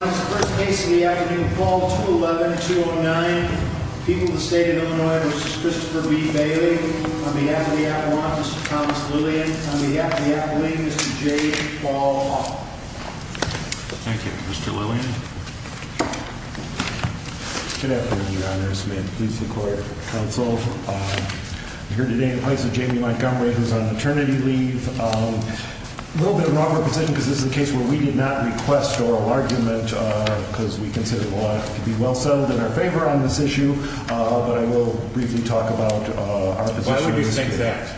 First case of the afternoon, Paul 211-209. People of the state of Illinois, Mr. Christopher B. Bailey. On behalf of the Avalanche, Mr. Thomas Lillian. On behalf of the Appalachians, Mr. J. Paul Hall. Thank you. Mr. Lillian. Good afternoon, Your Honor. This is a case where we did not request oral argument because we consider the law to be well settled in our favor on this issue, but I will briefly talk about our position. Why would you think that?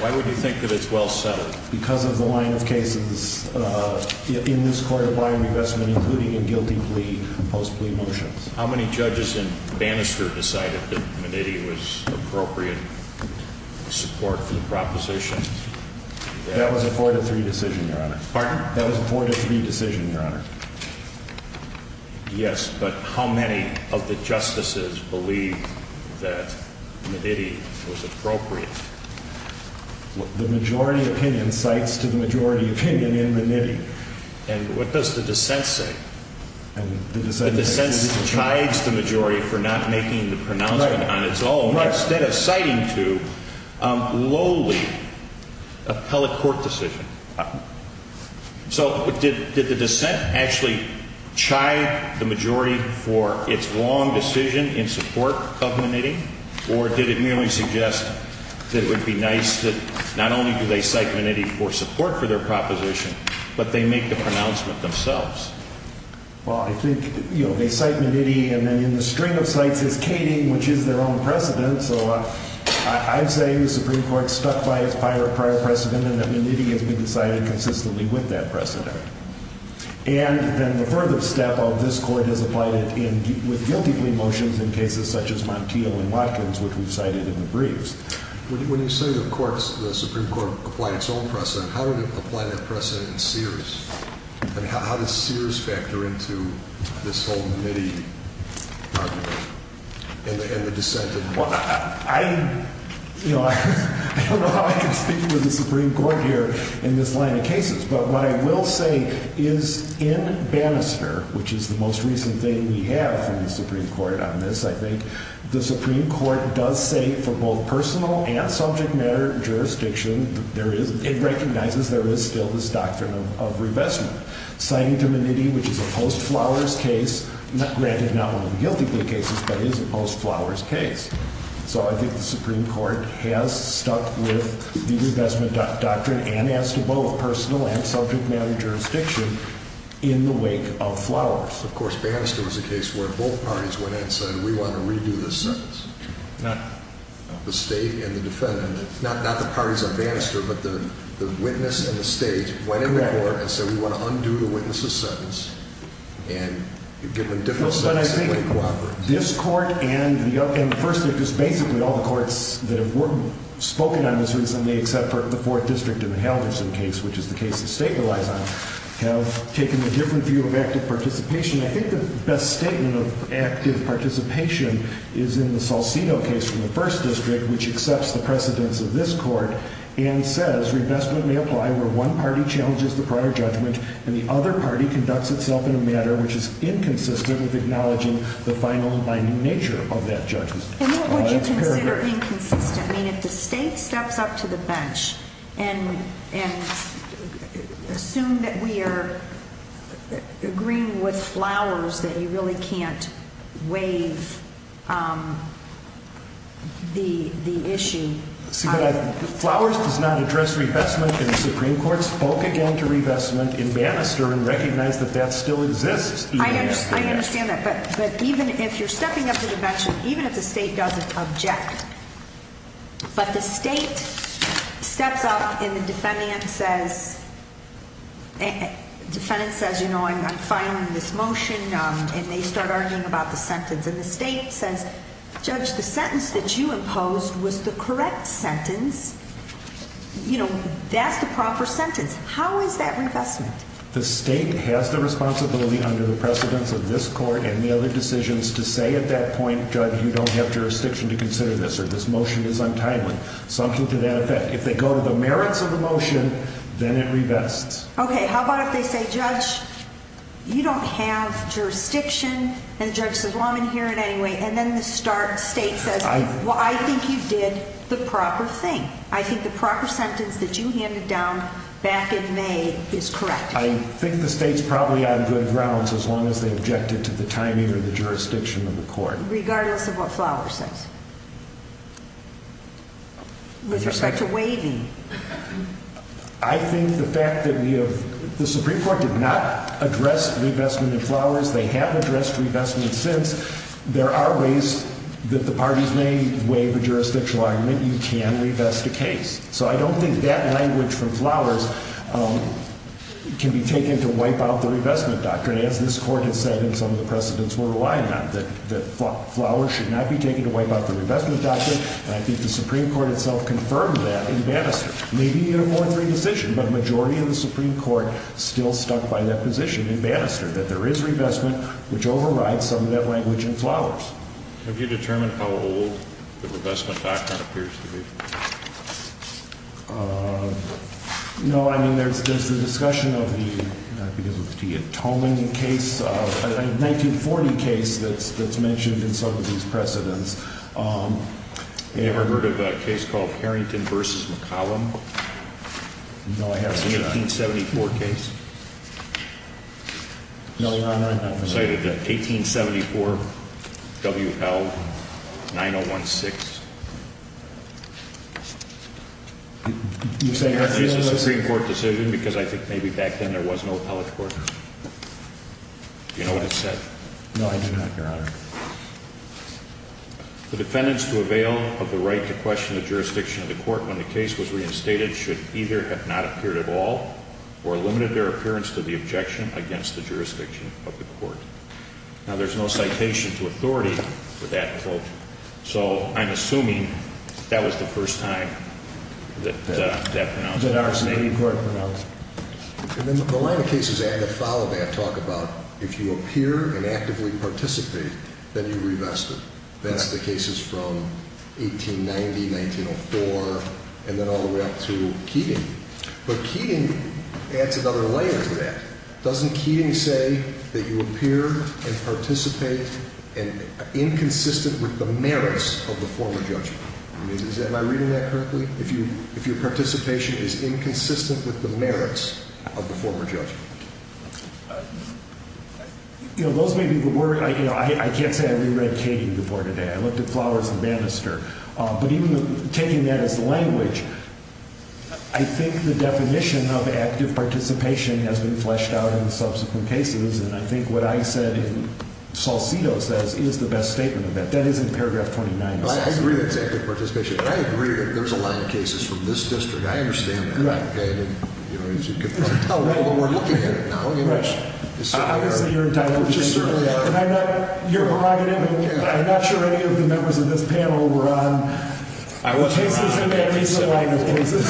Why would you think that it's well settled? Because of the line of cases in this court of line revestment, including in guilty plea, post plea motions. How many judges in Bannister decided that Meditti was appropriate support for the proposition? That was a 4-3 decision, Your Honor. Pardon? That was a 4-3 decision, Your Honor. Yes, but how many of the justices believed that Meditti was appropriate? The majority opinion cites to the majority opinion in Meditti. And what does the dissent say? The dissent chides the majority for not making the pronouncement on its own, instead of citing to lowly appellate court decision. So did the dissent actually chide the majority for its long decision in support of Meditti, or did it merely suggest that it would be nice that not only do they cite Meditti for support for their proposition, but they make the pronouncement themselves? Well, I think, you know, they cite Meditti, and then in the string of cites is Kading, which is their own precedent. So I'd say the Supreme Court's stuck by its prior precedent and that Meditti has been decided consistently with that precedent. And then the further step of this court has applied it with guilty plea motions in cases such as Montiel and Watkins, which we've cited in the briefs. When you say the Supreme Court applied its own precedent, how did it apply that precedent in Sears? I mean, how does Sears factor into this whole Meditti argument and the dissent? Well, I don't know how I can speak with the Supreme Court here in this line of cases. But what I will say is in Bannister, which is the most recent thing we have in the Supreme Court on this, I think the Supreme Court does say for both personal and subject matter jurisdiction, it recognizes there is still this doctrine of revestment. Citing to Meditti, which is a post-Flowers case, granted not only in guilty plea cases, but is a post-Flowers case. So I think the Supreme Court has stuck with the revestment doctrine and as to both personal and subject matter jurisdiction in the wake of Flowers. Of course, Bannister was a case where both parties went in and said, we want to redo this sentence. The state and the defendant, not the parties of Bannister, but the witness and the state went in the court and said, we want to undo the witness's sentence. And you give them different sentences and they cooperate. But I think this court and the other, and basically all the courts that have spoken on this recently, except for the Fourth District and the Halvorson case, which is the case the statement lies on, have taken a different view of active participation. I think the best statement of active participation is in the Salcido case from the First District, which accepts the precedence of this court and says, revestment may apply where one party challenges the prior judgment and the other party conducts itself in a matter which is inconsistent with acknowledging the final and binding nature of that judgment. And what would you consider inconsistent? I mean, if the state steps up to the bench and assume that we are agreeing with Flowers that you really can't waive the issue. Flowers does not address revestment in the Supreme Court, spoke again to revestment in Bannister and recognized that that still exists. I understand that. But even if you're stepping up to the bench, even if the state doesn't object, but the state steps up and the defendant says, you know, I'm fine with this motion. And they start arguing about the sentence and the state says, judge, the sentence that you imposed was the correct sentence. You know, that's the proper sentence. How is that revestment? The state has the responsibility under the precedence of this court and the other decisions to say at that point, judge, you don't have jurisdiction to consider this or this motion is untimely. If they go to the merits of the motion, then it revests. Okay. How about if they say, judge, you don't have jurisdiction and the judge says, well, I'm in here in any way. And then the start state says, well, I think you did the proper thing. I think the proper sentence that you handed down back in May is correct. I think the state's probably on good grounds as long as they objected to the timing or the jurisdiction of the court, regardless of what flower says. With respect to waving, I think the fact that we have the Supreme Court did not address the investment in flowers. They have addressed revestment since there are ways that the parties may waive a jurisdictional argument. You can revest a case. So I don't think that language from flowers can be taken to wipe out the revestment doctrine, as this court has said in some of the precedents we're relying on. That flowers should not be taken to wipe out the revestment doctrine, and I think the Supreme Court itself confirmed that in Bannister. Maybe in a more free decision, but a majority of the Supreme Court still stuck by that position in Bannister, that there is revestment, which overrides some of that language in flowers. Have you determined how old the revestment doctrine appears to be? No. I mean, there's the discussion of the, not because of the Tia Toman case, the 1940 case that's mentioned in some of these precedents. Have you ever heard of a case called Harrington v. McCollum? No, I haven't. The 1874 case? No, I haven't. Cited the 1874 W.L. 9016. You're saying that's a Supreme Court decision because I think maybe back then there was no appellate court? Do you know what it said? No, I do not, Your Honor. The defendants to avail of the right to question the jurisdiction of the court when the case was reinstated should either have not appeared at all or limited their appearance to the objection against the jurisdiction of the court. Now, there's no citation to authority for that quote, so I'm assuming that was the first time that that was pronounced. And then the line of cases that follow that talk about if you appear and actively participate, then you revest it. That's the cases from 1890, 1904, and then all the way up to Keating. But Keating adds another layer to that. Doesn't Keating say that you appear and participate inconsistent with the merits of the former judgment? Am I reading that correctly? If your participation is inconsistent with the merits of the former judgment? You know, those may be the words. I can't say I reread Keating before today. I looked at Flowers and Bannister. But even taking that as the language, I think the definition of active participation has been fleshed out in subsequent cases, and I think what I said in Salcido says is the best statement of that. That is in paragraph 29 of Salcido. I agree that it's active participation. I agree that there's a line of cases from this district. I understand that. As you can tell, we're looking at it now. Obviously, you're entitled to change it. You're prerogative, and I'm not sure any of the members of this panel were on cases in that recent line of cases.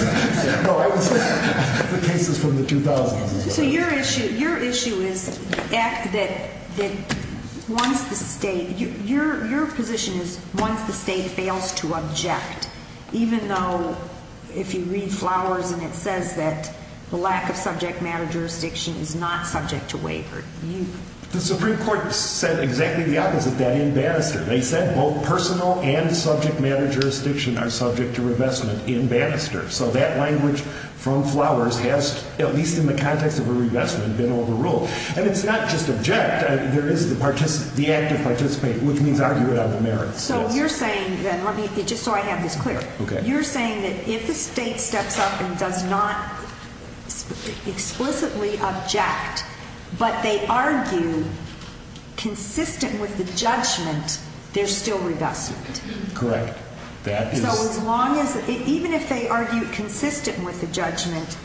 So your issue is once the state fails to object, even though if you read Flowers and it says that the lack of subject matter jurisdiction is not subject to waiver. The Supreme Court said exactly the opposite, that in Bannister. They said both personal and subject matter jurisdiction are subject to revestment in Bannister. So that language from Flowers has, at least in the context of a revestment, been overruled. And it's not just object. There is the active participation, which means argument on the merits. So you're saying, just so I have this clear, you're saying that if the state steps up and does not explicitly object, but they argue consistent with the judgment, there's still revestment. Correct. So as long as, even if they argue consistent with the judgment,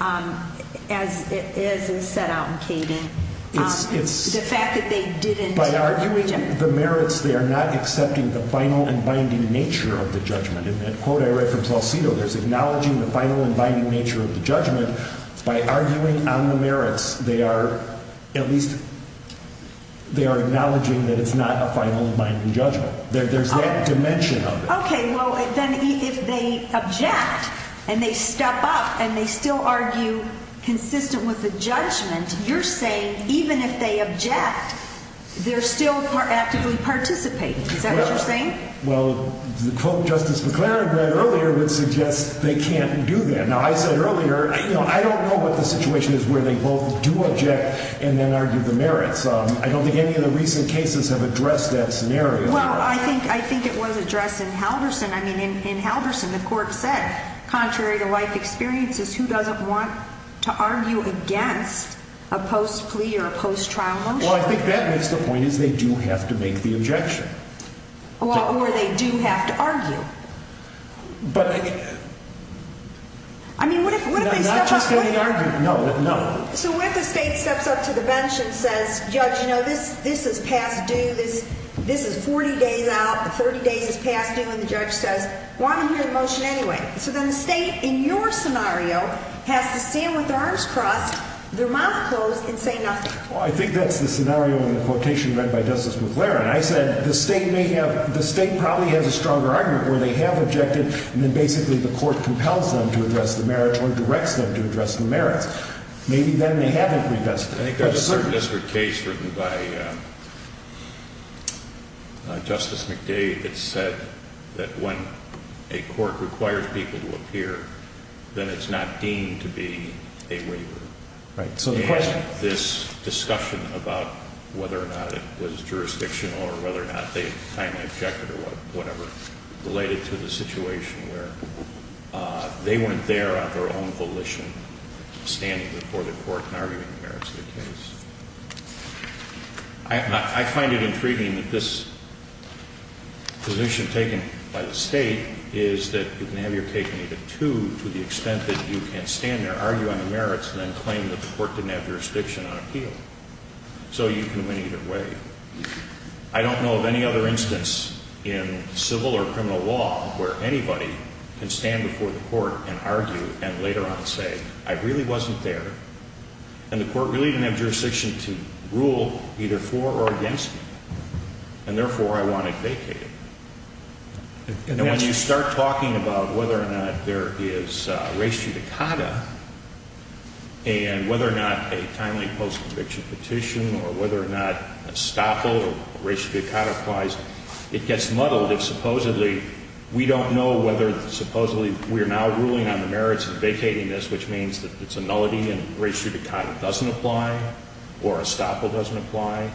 as is set out in Katie, the fact that they didn't. By arguing the merits, they are not accepting the final and binding nature of the judgment. In that quote I read from Salcido, there's acknowledging the final and binding nature of the judgment. By arguing on the merits, they are at least, they are acknowledging that it's not a final and binding judgment. There's that dimension of it. Okay. Well, then if they object and they step up and they still argue consistent with the judgment, you're saying even if they object, they're still actively participating. Is that what you're saying? Well, the quote Justice McClaren read earlier would suggest they can't do that. Now, I said earlier, you know, I don't know what the situation is where they both do object and then argue the merits. I don't think any of the recent cases have addressed that scenario. Well, I think it was addressed in Halverson. I mean, in Halverson, the court said contrary to life experiences, who doesn't want to argue against a post-plea or a post-trial motion? Well, I think that makes the point is they do have to make the objection. Or they do have to argue. But. I mean, what if they step up. Not just any argument. No, no. So what if the state steps up to the bench and says, Judge, you know, this is past due, this is 40 days out, 30 days is past due, and the judge says, well, I'm going to hear the motion anyway. So then the state, in your scenario, has to stand with their arms crossed, their mouth closed, and say nothing. Well, I think that's the scenario in the quotation read by Justice McClaren. I said the state may have, the state probably has a stronger argument where they have objected and then basically the court compels them to address the merits or directs them to address the merits. Maybe then they haven't. I think there's a third district case written by Justice McDade that said that when a court requires people to appear, then it's not deemed to be a waiver. Right. I find it intriguing that this position taken by the state is that you can have your cake and eat it, too, to the extent that you can stand there, argue on the merits, and then claim that the court didn't have jurisdiction on appeal. So you can win either way. I don't know of any other instance in civil or criminal law where anybody can stand before the court and argue and later on say, I really wasn't there, and the court really didn't have jurisdiction to rule either for or against me, and therefore I want to vacate it. When you start talking about whether or not there is res judicata and whether or not a timely post-conviction petition or whether or not estoppel or res judicata applies, it gets muddled if supposedly we don't know whether, supposedly we are now ruling on the merits of vacating this, which means that it's a nullity and res judicata doesn't apply or estoppel doesn't apply.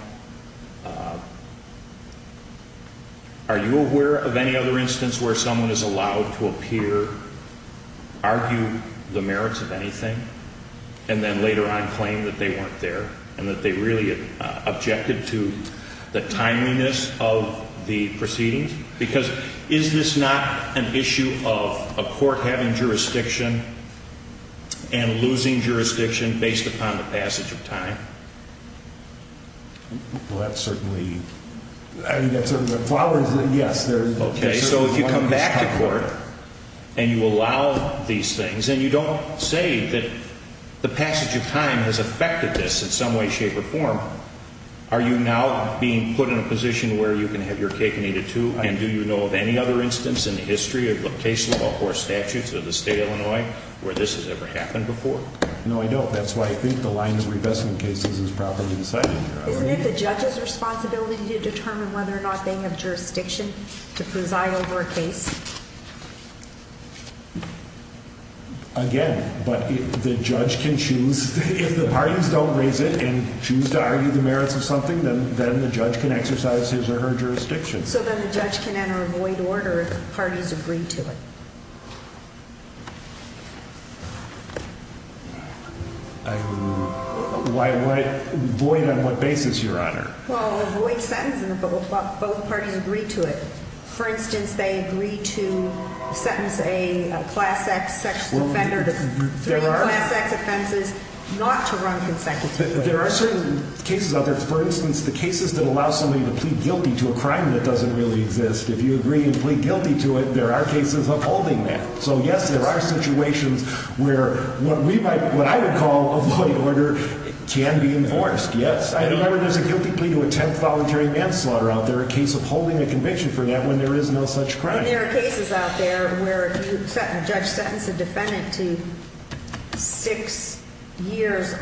Are you aware of any other instance where someone is allowed to appear, argue the merits of anything, and then later on claim that they weren't there and that they really objected to the timeliness of the proceedings? Because is this not an issue of a court having jurisdiction and losing jurisdiction based upon the passage of time? Well, that's certainly, I mean, that's sort of a flower, yes. Okay, so if you come back to court and you allow these things and you don't say that the passage of time has affected this in some way, shape, or form, are you now being put in a position where you can have your cake and eat it too? And do you know of any other instance in the history of case law or statutes of the state of Illinois where this has ever happened before? No, I don't. That's why I think the line of revestment cases is properly decided here. Isn't it the judge's responsibility to determine whether or not they have jurisdiction to preside over a case? Again, but the judge can choose, if the parties don't raise it and choose to argue the merits of something, then the judge can exercise his or her jurisdiction. So then the judge can enter a void order if the parties agree to it. A void on what basis, Your Honor? Well, a void sentence if both parties agree to it. For instance, they agree to sentence a class X sexual offender to three class X offenses not to run consecutively. There are certain cases, for instance, the cases that allow somebody to plead guilty to a crime that doesn't really exist, if you agree and plead guilty to it, there are cases upholding that. So yes, there are situations where what I would call a void order can be enforced, yes. I remember there's a guilty plea to attempt voluntary manslaughter out there, a case upholding a conviction for that when there is no such crime. And there are cases out there where a judge sentences a defendant to six years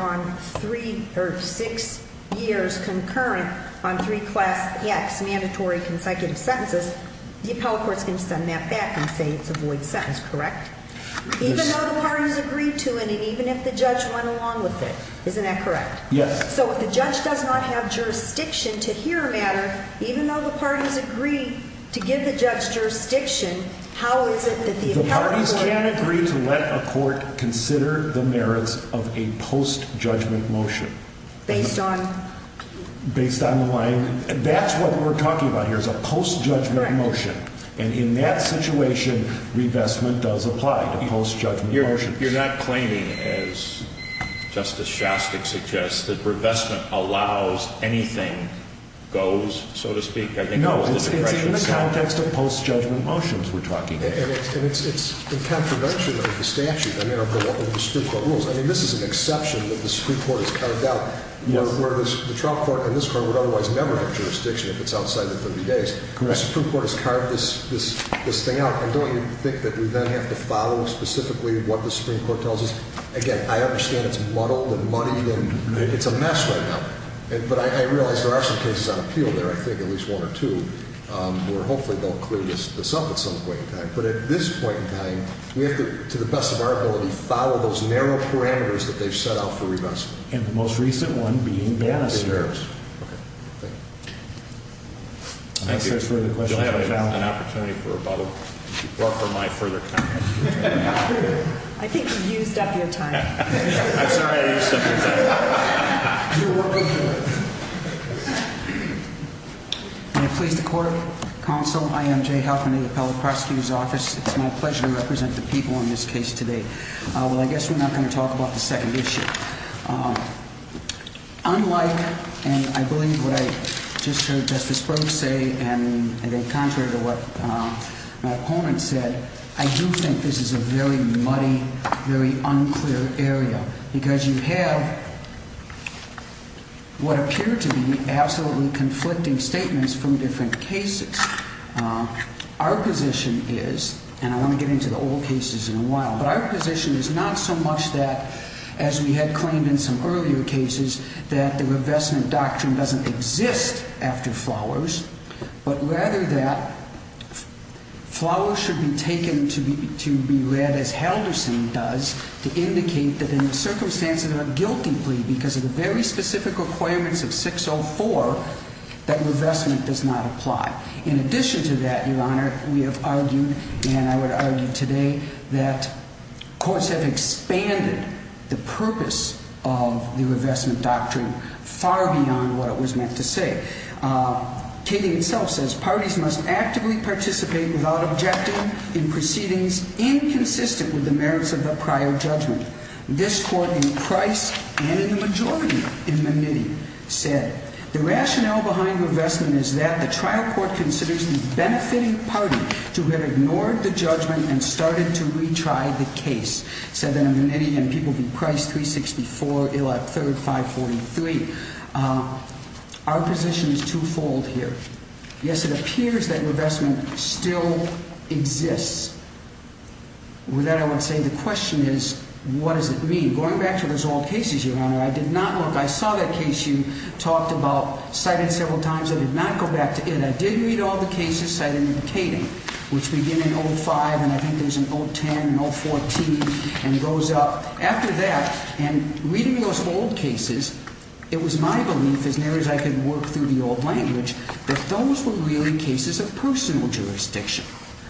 concurrent on three class X mandatory consecutive sentences. The appellate court's going to send that back and say it's a void sentence, correct? Even though the parties agreed to it and even if the judge went along with it, isn't that correct? Yes. So if the judge does not have jurisdiction to hear a matter, even though the parties agree to give the judge jurisdiction, how is it that the appellate court— The parties can agree to let a court consider the merits of a post-judgment motion. Based on? Based on the line—that's what we're talking about here is a post-judgment motion. Correct. And in that situation, revestment does apply to post-judgment motions. You're not claiming, as Justice Shostak suggests, that revestment allows anything goes, so to speak? No, it's in the context of post-judgment motions we're talking about. And it's a contradiction of the statute, I mean, of the Supreme Court rules. I mean, this is an exception that the Supreme Court has carved out where the trial court in this court would otherwise never have jurisdiction if it's outside the 30 days. Correct. The Supreme Court has carved this thing out, and don't you think that we then have to follow specifically what the Supreme Court tells us? Again, I understand it's muddled and muddy, and it's a mess right now. But I realize there are some cases on appeal there, I think at least one or two, where hopefully they'll clear this up at some point in time. But at this point in time, we have to, to the best of our ability, follow those narrow parameters that they've set out for revestment. And the most recent one being— Yes. Okay. Thank you. Do I have an opportunity for a bottle? Or for my further comment? I think you used up your time. I'm sorry I used up your time. May it please the Court, Counsel, I am Jay Huffman of the Appellate Prosecutor's Office. It's my pleasure to represent the people in this case today. Well, I guess we're not going to talk about the second issue. Unlike, and I believe what I just heard Justice Brooks say, and I think contrary to what my opponent said, I do think this is a very muddy, very unclear area, because you have what appear to be absolutely conflicting statements from different cases. Our position is, and I want to get into the old cases in a while, but our position is not so much that, as we had claimed in some earlier cases, that the revestment doctrine doesn't exist after Flowers, but rather that Flowers should be taken to be read as Halderson does to indicate that in the circumstances of a guilty plea, because of the very specific requirements of 604, that revestment does not apply. In addition to that, Your Honor, we have argued, and I would argue today, that courts have expanded the purpose of the revestment doctrine far beyond what it was meant to say. Keating himself says, Parties must actively participate without objecting in proceedings inconsistent with the merits of the prior judgment. This court in Price and in the majority in Menitti said, The rationale behind revestment is that the trial court considers the benefiting party to have ignored the judgment and started to retry the case. It said that in Menitti and People v. Price, 364, Illa, 3rd, 543. Our position is twofold here. Yes, it appears that revestment still exists. With that, I would say the question is, what does it mean? Going back to those old cases, Your Honor, I did not look. I saw that case you talked about cited several times. I did not go back to it. I did read all the cases cited in Keating, which begin in 05, and I think there's an 010 and 014, and goes up. After that, and reading those old cases, it was my belief, as near as I could work through the old language, that those were really cases of personal jurisdiction,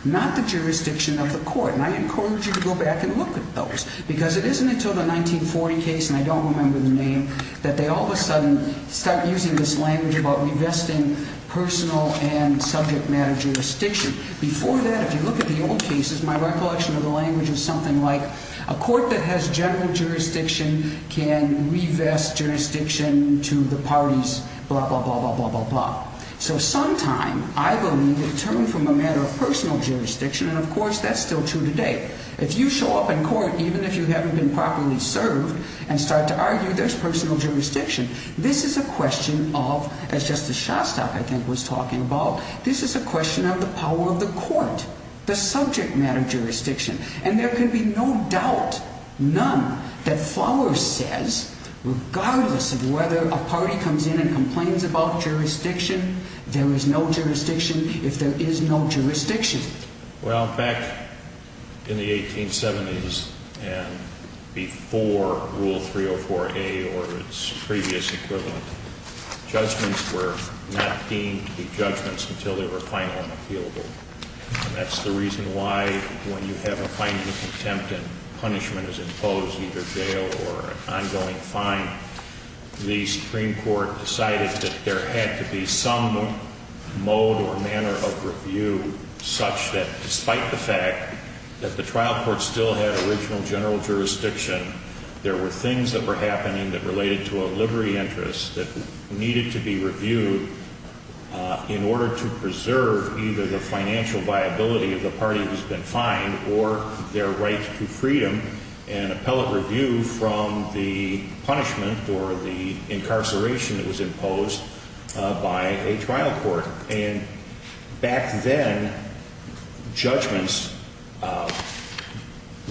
not the jurisdiction of the court. And I encourage you to go back and look at those, because it isn't until the 1940 case, and I don't remember the name, that they all of a sudden start using this language about revesting personal and subject matter jurisdiction. Before that, if you look at the old cases, my recollection of the language is something like, a court that has general jurisdiction can revest jurisdiction to the parties, blah, blah, blah, blah, blah, blah, blah. So sometime, I believe, it turned from a matter of personal jurisdiction, and of course, that's still true today. If you show up in court, even if you haven't been properly served, and start to argue there's personal jurisdiction, this is a question of, as Justice Shostak, I think, was talking about, this is a question of the power of the court, the subject matter jurisdiction. And there can be no doubt, none, that Fowler says, regardless of whether a party comes in and complains about jurisdiction, there is no jurisdiction if there is no jurisdiction. Well, back in the 1870s, and before Rule 304A or its previous equivalent, judgments were not deemed to be judgments until they were final and appealable. And that's the reason why, when you have a final contempt and punishment is imposed, either jail or an ongoing fine, the Supreme Court decided that there had to be some mode or manner of review such that, despite the fact that the trial court still had original general jurisdiction, there were things that were happening that related to a livery interest that needed to be reviewed in order to preserve either the financial viability of the party who's been fined or their right to freedom and appellate review from the punishment or the incarceration that was imposed by a trial court. And back then, judgments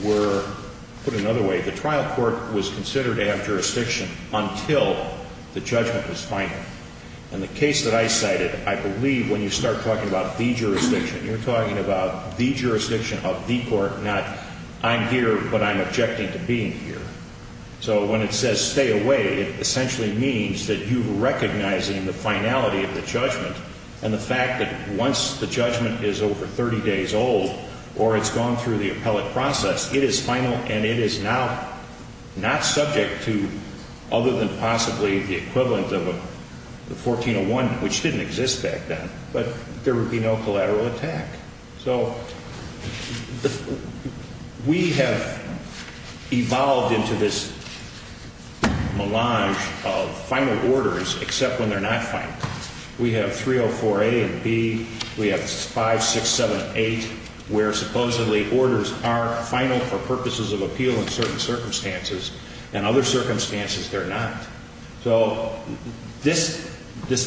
were put another way. The trial court was considered to have jurisdiction until the judgment was final. In the case that I cited, I believe when you start talking about the jurisdiction, you're talking about the jurisdiction of the court, not I'm here, but I'm objecting to being here. So when it says stay away, it essentially means that you're recognizing the finality of the judgment and the fact that once the judgment is over 30 days old or it's gone through the appellate process, it is final and it is now not subject to, other than possibly the equivalent of a 1401, which didn't exist back then, but there would be no collateral attack. So we have evolved into this melange of final orders except when they're not final. We have 304A and B. We have 5678 where supposedly orders are final for purposes of appeal in certain circumstances and other circumstances they're not. So this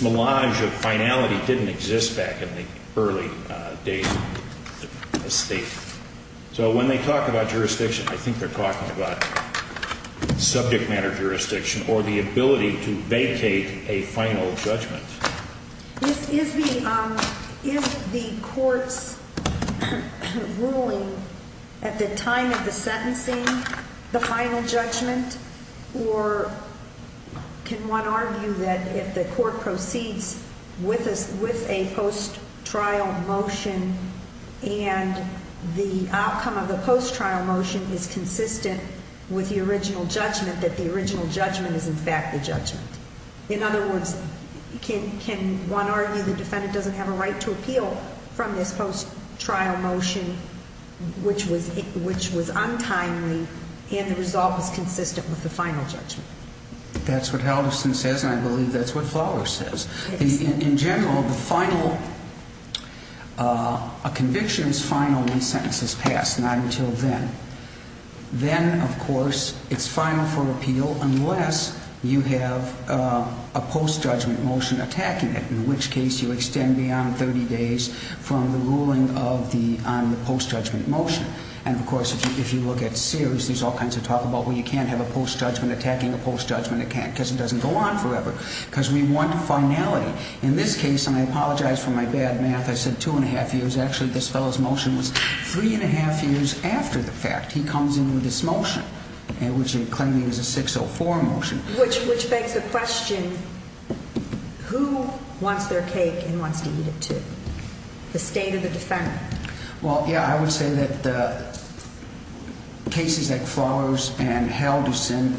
melange of finality didn't exist back in the early days of the state. So when they talk about jurisdiction, I think they're talking about subject matter jurisdiction or the ability to vacate a final judgment. Is the court's ruling at the time of the sentencing the final judgment, or can one argue that if the court proceeds with a post-trial motion and the outcome of the post-trial motion is consistent with the original judgment, that the original judgment is in fact the judgment? In other words, can one argue the defendant doesn't have a right to appeal from this post-trial motion which was untimely and the result was consistent with the final judgment? That's what Halverson says and I believe that's what Flowers says. In general, a conviction is final when the sentence is passed, not until then. Then, of course, it's final for appeal unless you have a post-judgment motion attacking it, in which case you extend beyond 30 days from the ruling on the post-judgment motion. And, of course, if you look at Sears, there's all kinds of talk about, well, you can't have a post-judgment attacking a post-judgment, because it doesn't go on forever. Because we want finality. In this case, and I apologize for my bad math, I said two and a half years. Actually, this fellow's motion was three and a half years after the fact. He comes in with this motion, which he's claiming is a 604 motion. Which begs the question, who wants their cake and wants to eat it too? The state or the defendant? Well, yeah, I would say that cases like Flowers and Halverson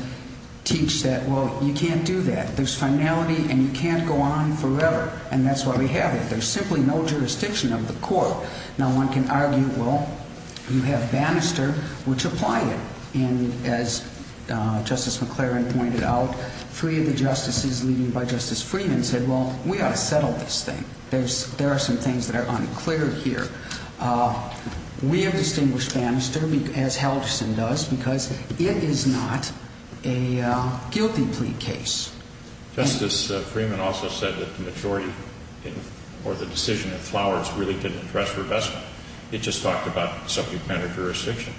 teach that, well, you can't do that. There's finality and you can't go on forever, and that's why we have it. There's simply no jurisdiction of the court. Now, one can argue, well, you have Bannister, which apply it. And as Justice McLaren pointed out, three of the justices leading by Justice Freeman said, well, we ought to settle this thing. There are some things that are unclear here. We have distinguished Bannister, as Halverson does, because it is not a guilty plea case. Justice Freeman also said that the majority or the decision of Flowers really didn't address revestment. It just talked about subject matter jurisdiction.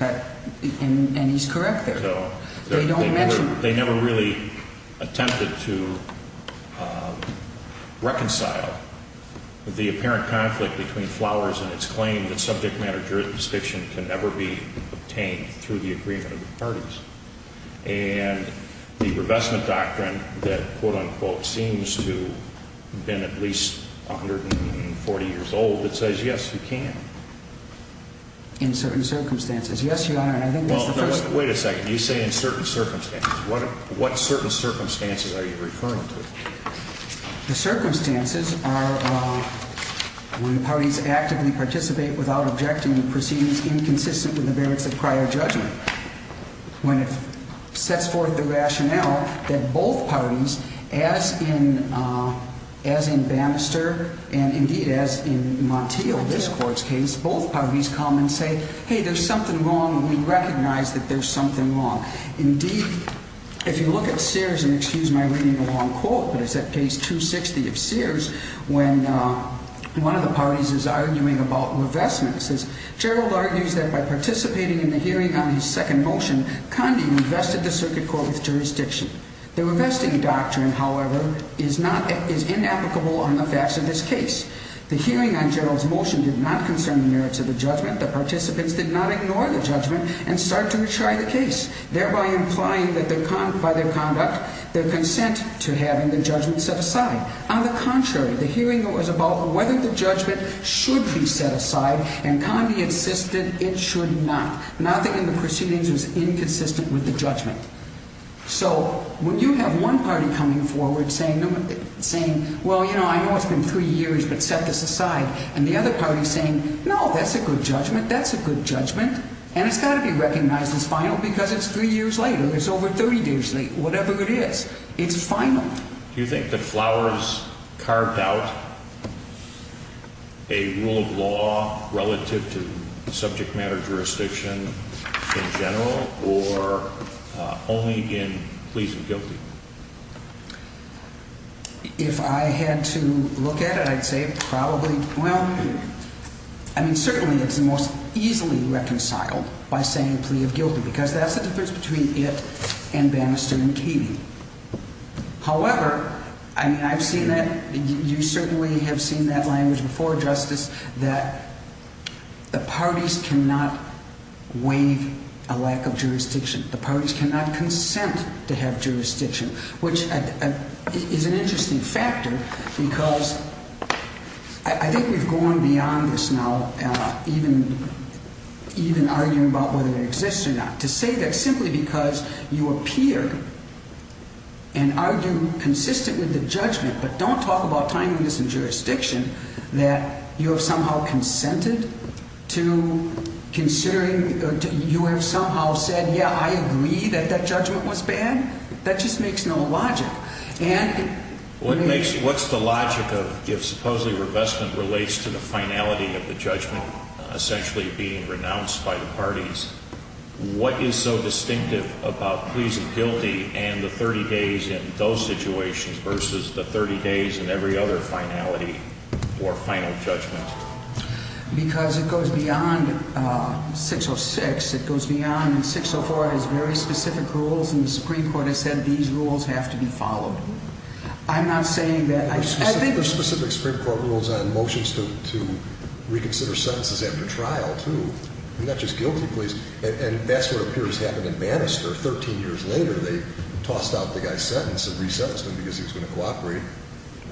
And he's correct there. They don't mention it. They never really attempted to reconcile the apparent conflict between Flowers and its claim that subject matter jurisdiction can never be obtained through the agreement of the parties. And the revestment doctrine that, quote, unquote, seems to have been at least 140 years old that says, yes, you can. In certain circumstances. Yes, Your Honor, and I think that's the first thing. Wait a second. You say in certain circumstances. What certain circumstances are you referring to? The circumstances are when the parties actively participate without objecting and proceedings inconsistent with the merits of prior judgment. When it sets forth the rationale that both parties, as in Bannister and indeed as in Montiel, this court's case, both parties come and say, hey, there's something wrong. We recognize that there's something wrong. Indeed, if you look at Sears, and excuse my reading a long quote, but it's at page 260 of Sears, when one of the parties is arguing about revestments, it says, Gerald argues that by participating in the hearing on his second motion, Conde revested the circuit court with jurisdiction. The revesting doctrine, however, is inapplicable on the facts of this case. The hearing on Gerald's motion did not concern the merits of the judgment. The participants did not ignore the judgment and start to retry the case, thereby implying that by their conduct, their consent to having the judgment set aside. On the contrary, the hearing was about whether the judgment should be set aside, and Conde insisted it should not, not that in the proceedings it was inconsistent with the judgment. So when you have one party coming forward saying, well, you know, I know it's been three years, but set this aside, and the other party saying, no, that's a good judgment, that's a good judgment, and it's got to be recognized as final because it's three years later. It's over 30 years late. Whatever it is, it's final. Do you think that Flowers carved out a rule of law relative to subject matter jurisdiction in general, or only in pleas of guilty? If I had to look at it, I'd say probably, well, I mean, certainly it's the most easily reconciled by saying plea of guilty because that's the difference between it and Bannister and Keeney. However, I mean, I've seen that. You certainly have seen that language before, Justice, that the parties cannot waive a lack of jurisdiction. The parties cannot consent to have jurisdiction, which is an interesting factor because I think we've gone beyond this now, even arguing about whether it exists or not. To say that simply because you appear and argue consistent with the judgment, but don't talk about timeliness and jurisdiction, that you have somehow consented to considering, you have somehow said, yeah, I agree that that judgment was bad, that just makes no logic. What's the logic if supposedly revestment relates to the finality of the judgment essentially being renounced by the parties? What is so distinctive about pleas of guilty and the 30 days in those situations versus the 30 days in every other finality or final judgment? Because it goes beyond 606. It goes beyond 604. It has very specific rules, and the Supreme Court has said these rules have to be followed. I'm not saying that I think— There are specific Supreme Court rules on motions to reconsider sentences after trial, too, and not just guilty pleas. And that's what appears to have happened in Bannister. Thirteen years later, they tossed out the guy's sentence and re-sentenced him because he was going to cooperate.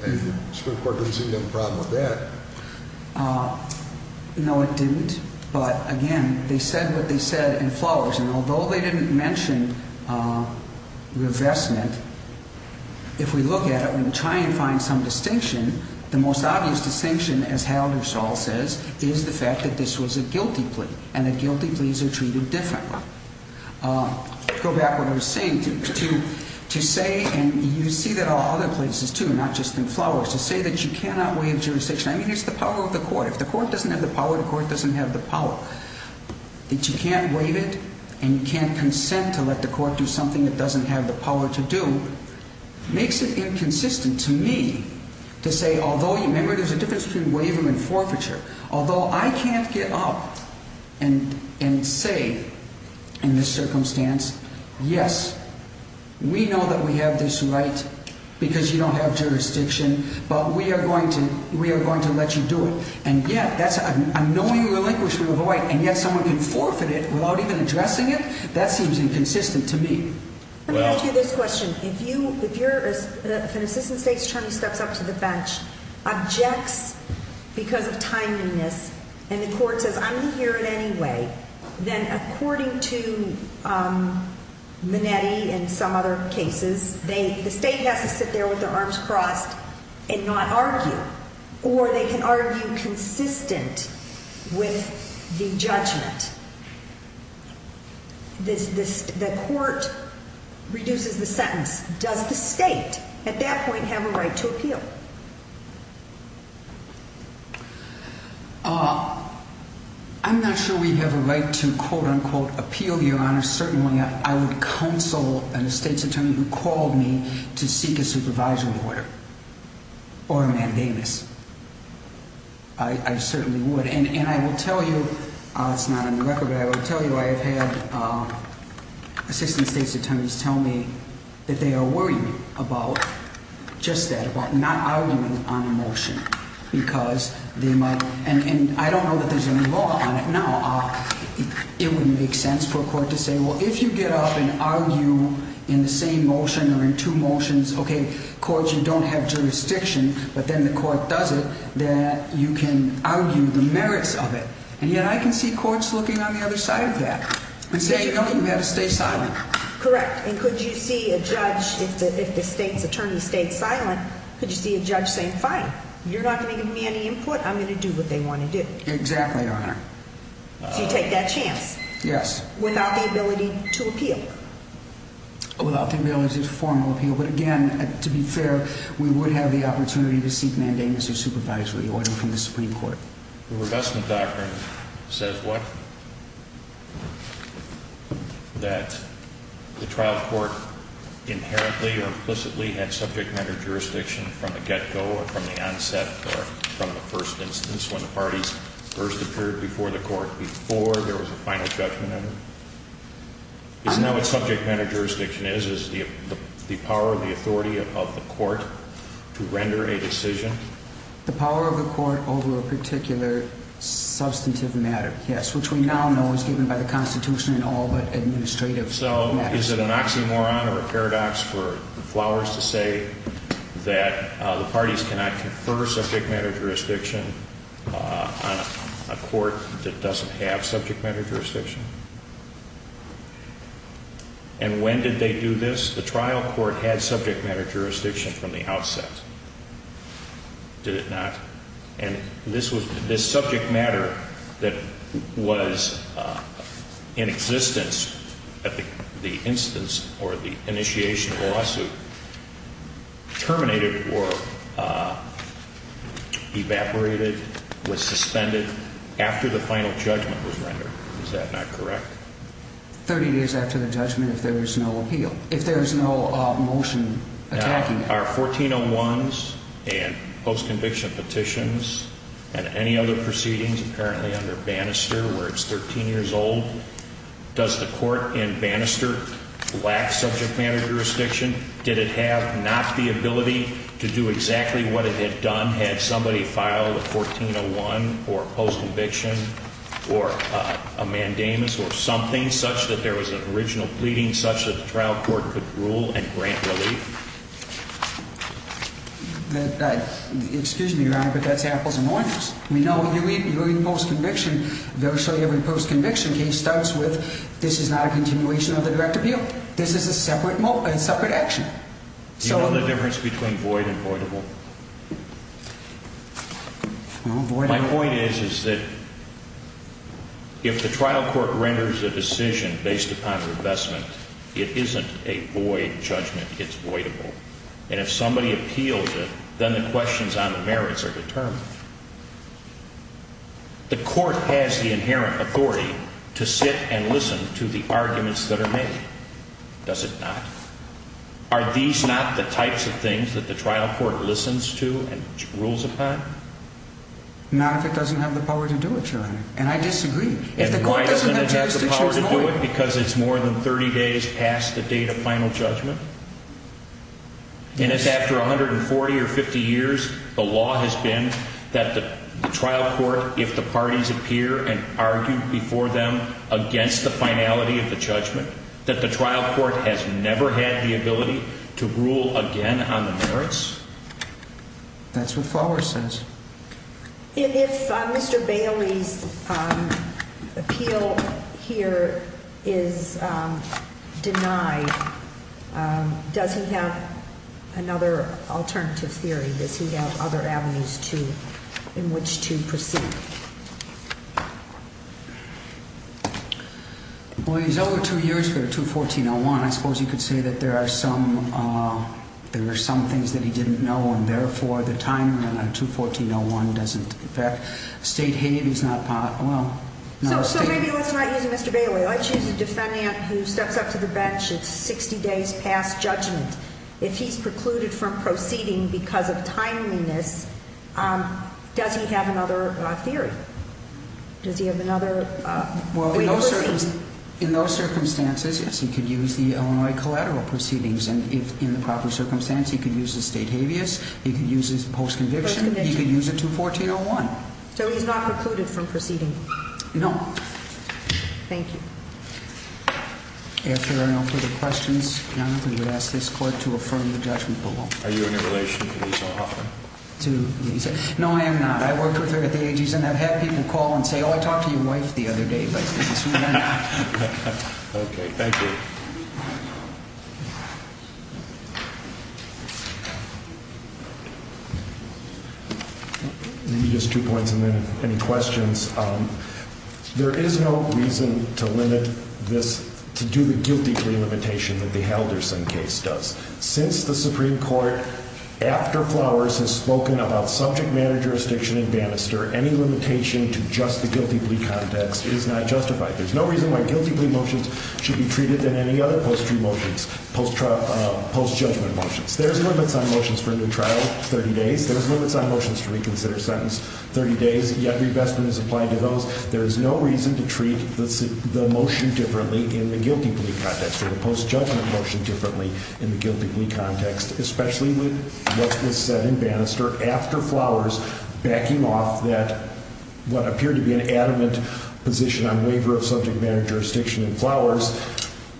And the Supreme Court doesn't seem to have a problem with that. No, it didn't. But, again, they said what they said in Flowers. And although they didn't mention revestment, if we look at it and try and find some distinction, the most obvious distinction, as Halderstall says, is the fact that this was a guilty plea and that guilty pleas are treated differently. To go back to what I was saying, to say—and you see that all other places, too, not just in Flowers—to say that you cannot waive jurisdiction. I mean, it's the power of the court. If the court doesn't have the power, the court doesn't have the power. That you can't waive it and you can't consent to let the court do something it doesn't have the power to do makes it inconsistent to me to say, although— Remember, there's a difference between waiver and forfeiture. Although I can't get up and say in this circumstance, yes, we know that we have this right because you don't have jurisdiction, but we are going to let you do it. And yet, that's an annoying relinquishment of a right, and yet someone can forfeit it without even addressing it? That seems inconsistent to me. Let me ask you this question. If an assistant state's attorney steps up to the bench, objects because of timeliness, and the court says, I'm going to hear it anyway, then according to Minetti and some other cases, the state has to sit there with their arms crossed and not argue. Or they can argue consistent with the judgment. The court reduces the sentence. Does the state at that point have a right to appeal? I'm not sure we have a right to, quote, unquote, appeal, Your Honor. Certainly, I would counsel a state's attorney who called me to seek a supervisory order or a mandamus. I certainly would. And I will tell you, it's not on the record, but I will tell you I have had assistant state's attorneys tell me that they are worried about just that, about not arguing on a motion. And I don't know that there's any law on it now. It wouldn't make sense for a court to say, well, if you get up and argue in the same motion or in two motions, okay, courts, you don't have jurisdiction, but then the court does it, then you can argue the merits of it. And yet I can see courts looking on the other side of that and saying, no, you have to stay silent. Correct. And could you see a judge, if the state's attorney stayed silent, could you see a judge saying, fine, you're not going to give me any input? I'm going to do what they want to do. Exactly, Your Honor. Do you take that chance? Yes. Without the ability to appeal? Without the ability to formal appeal. But, again, to be fair, we would have the opportunity to seek mandamus or supervisory order from the Supreme Court. The revestment doctrine says what? That the trial court inherently or implicitly had subject matter jurisdiction from the get-go or from the onset or from the first instance, when the parties first appeared before the court, before there was a final judgment of it? Isn't that what subject matter jurisdiction is, is the power of the authority of the court to render a decision? The power of the court over a particular substantive matter, yes, which we now know is given by the Constitution in all but administrative matters. So is it an oxymoron or a paradox for Flowers to say that the parties cannot confer subject matter jurisdiction on a court that doesn't have subject matter jurisdiction? And when did they do this? The trial court had subject matter jurisdiction from the outset, did it not? And this subject matter that was in existence at the instance or the initiation of the lawsuit terminated or evaporated, was suspended after the final judgment was rendered. Is that not correct? 30 days after the judgment if there is no appeal, if there is no motion attacking it. Now, are 1401s and post-conviction petitions and any other proceedings apparently under Bannister where it's 13 years old, does the court in Bannister lack subject matter jurisdiction? Did it have not the ability to do exactly what it had done had somebody filed a 1401 or post-conviction or a mandamus or something such that there was an original pleading such that the trial court could rule and grant relief? Excuse me, Your Honor, but that's apples and oranges. We know you're in post-conviction, virtually every post-conviction case starts with this is not a continuation of the direct appeal. This is a separate action. Do you know the difference between void and voidable? My point is that if the trial court renders a decision based upon revestment, it isn't a void judgment, it's voidable. And if somebody appeals it, then the questions on the merits are determined. The court has the inherent authority to sit and listen to the arguments that are made, does it not? Are these not the types of things that the trial court listens to and rules upon? Not if it doesn't have the power to do it, Your Honor, and I disagree. And why doesn't it have the power to do it? Because it's more than 30 days past the date of final judgment. And it's after 140 or 50 years, the law has been that the trial court, if the parties appear and argue before them against the finality of the judgment, that the trial court has never had the ability to rule again on the merits? That's what Fowler says. If Mr. Bailey's appeal here is denied, does he have another alternative theory? Does he have other avenues in which to proceed? Well, he's over two years here, 214-01. I suppose you could say that there are some things that he didn't know, and therefore, the time in 214-01 doesn't affect state hate. So maybe let's not use Mr. Bailey. Let's use a defendant who steps up to the bench. It's 60 days past judgment. If he's precluded from proceeding because of timeliness, does he have another theory? Does he have another way to proceed? Well, in those circumstances, yes, he could use the Illinois collateral proceedings. And if in the proper circumstance, he could use the state habeas, he could use his post-conviction, he could use a 214-01. So he's not precluded from proceeding? No. Thank you. If there are no further questions, we would ask this court to affirm the judgment below. Are you in a relation to Lisa Hoffman? To Lisa? No, I am not. I worked with her at the AG Center. I've had people call and say, oh, I talked to your wife the other day, but this is who I am. Okay. Thank you. Maybe just two points and then any questions. There is no reason to limit this, to do the guilty plea limitation that the Halderson case does. Since the Supreme Court, after Flowers, has spoken about subject matter jurisdiction in Bannister, any limitation to just the guilty plea context is not justified. There's no reason why guilty plea motions should be treated in any other post-trial motions, post-judgment motions. There's limits on motions for a new trial, 30 days. There's limits on motions to reconsider a sentence, 30 days. Yet, revestment is applied to those. There is no reason to treat the motion differently in the guilty plea context or the post-judgment motion differently in the guilty plea context, especially with what was said in Bannister after Flowers backing off that what appeared to be an adamant position on waiver of subject matter jurisdiction in Flowers.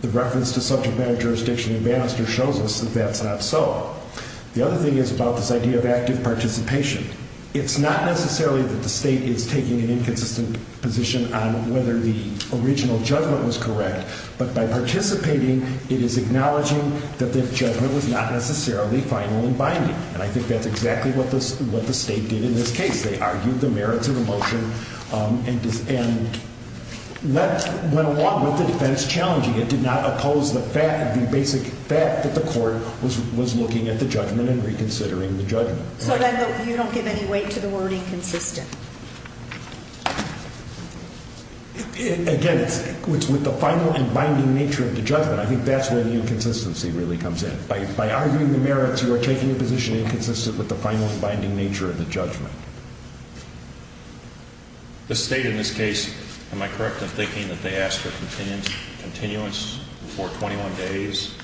The reference to subject matter jurisdiction in Bannister shows us that that's not so. The other thing is about this idea of active participation. It's not necessarily that the state is taking an inconsistent position on whether the original judgment was correct, but by participating, it is acknowledging that the judgment was not necessarily final and binding. And I think that's exactly what the state did in this case. They argued the merits of the motion and went along with it. That is challenging. It did not oppose the basic fact that the court was looking at the judgment and reconsidering the judgment. So then you don't give any weight to the word inconsistent. Again, it's with the final and binding nature of the judgment. I think that's where the inconsistency really comes in. By arguing the merits, you are taking a position inconsistent with the final and binding nature of the judgment. The state in this case, am I correct in thinking that they asked for continuance before 21 days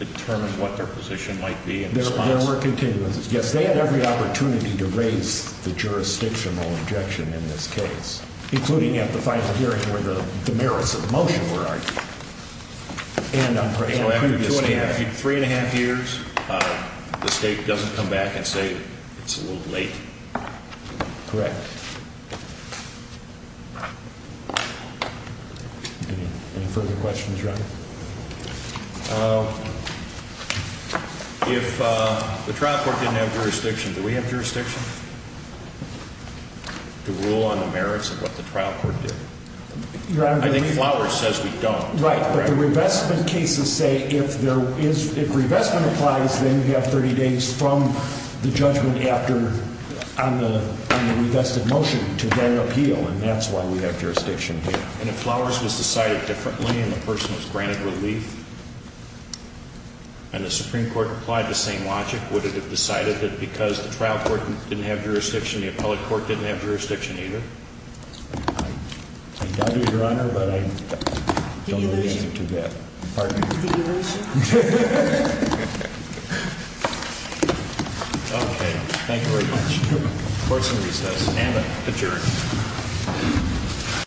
to determine what their position might be in response? Yes, there were continuances. Yes, they had every opportunity to raise the jurisdictional objection in this case, including at the final hearing where the merits of the motion were argued. So after three and a half years, the state doesn't come back and say it's a little late? Correct. Any further questions, Reverend? If the trial court didn't have jurisdiction, do we have jurisdiction to rule on the merits of what the trial court did? I think Flowers says we don't. Right. But the revestment cases say if revestment applies, then you have 30 days from the judgment after on the revested motion to then appeal. And that's why we have jurisdiction here. And if Flowers was decided differently and the person was granted relief, and the Supreme Court applied the same logic, would it have decided that because the trial court didn't have jurisdiction, the appellate court didn't have jurisdiction either? I doubt it, Your Honor, but I don't know the answer to that. Pardon me. Okay. Thank you very much. Court is in recess. Anna, adjourned.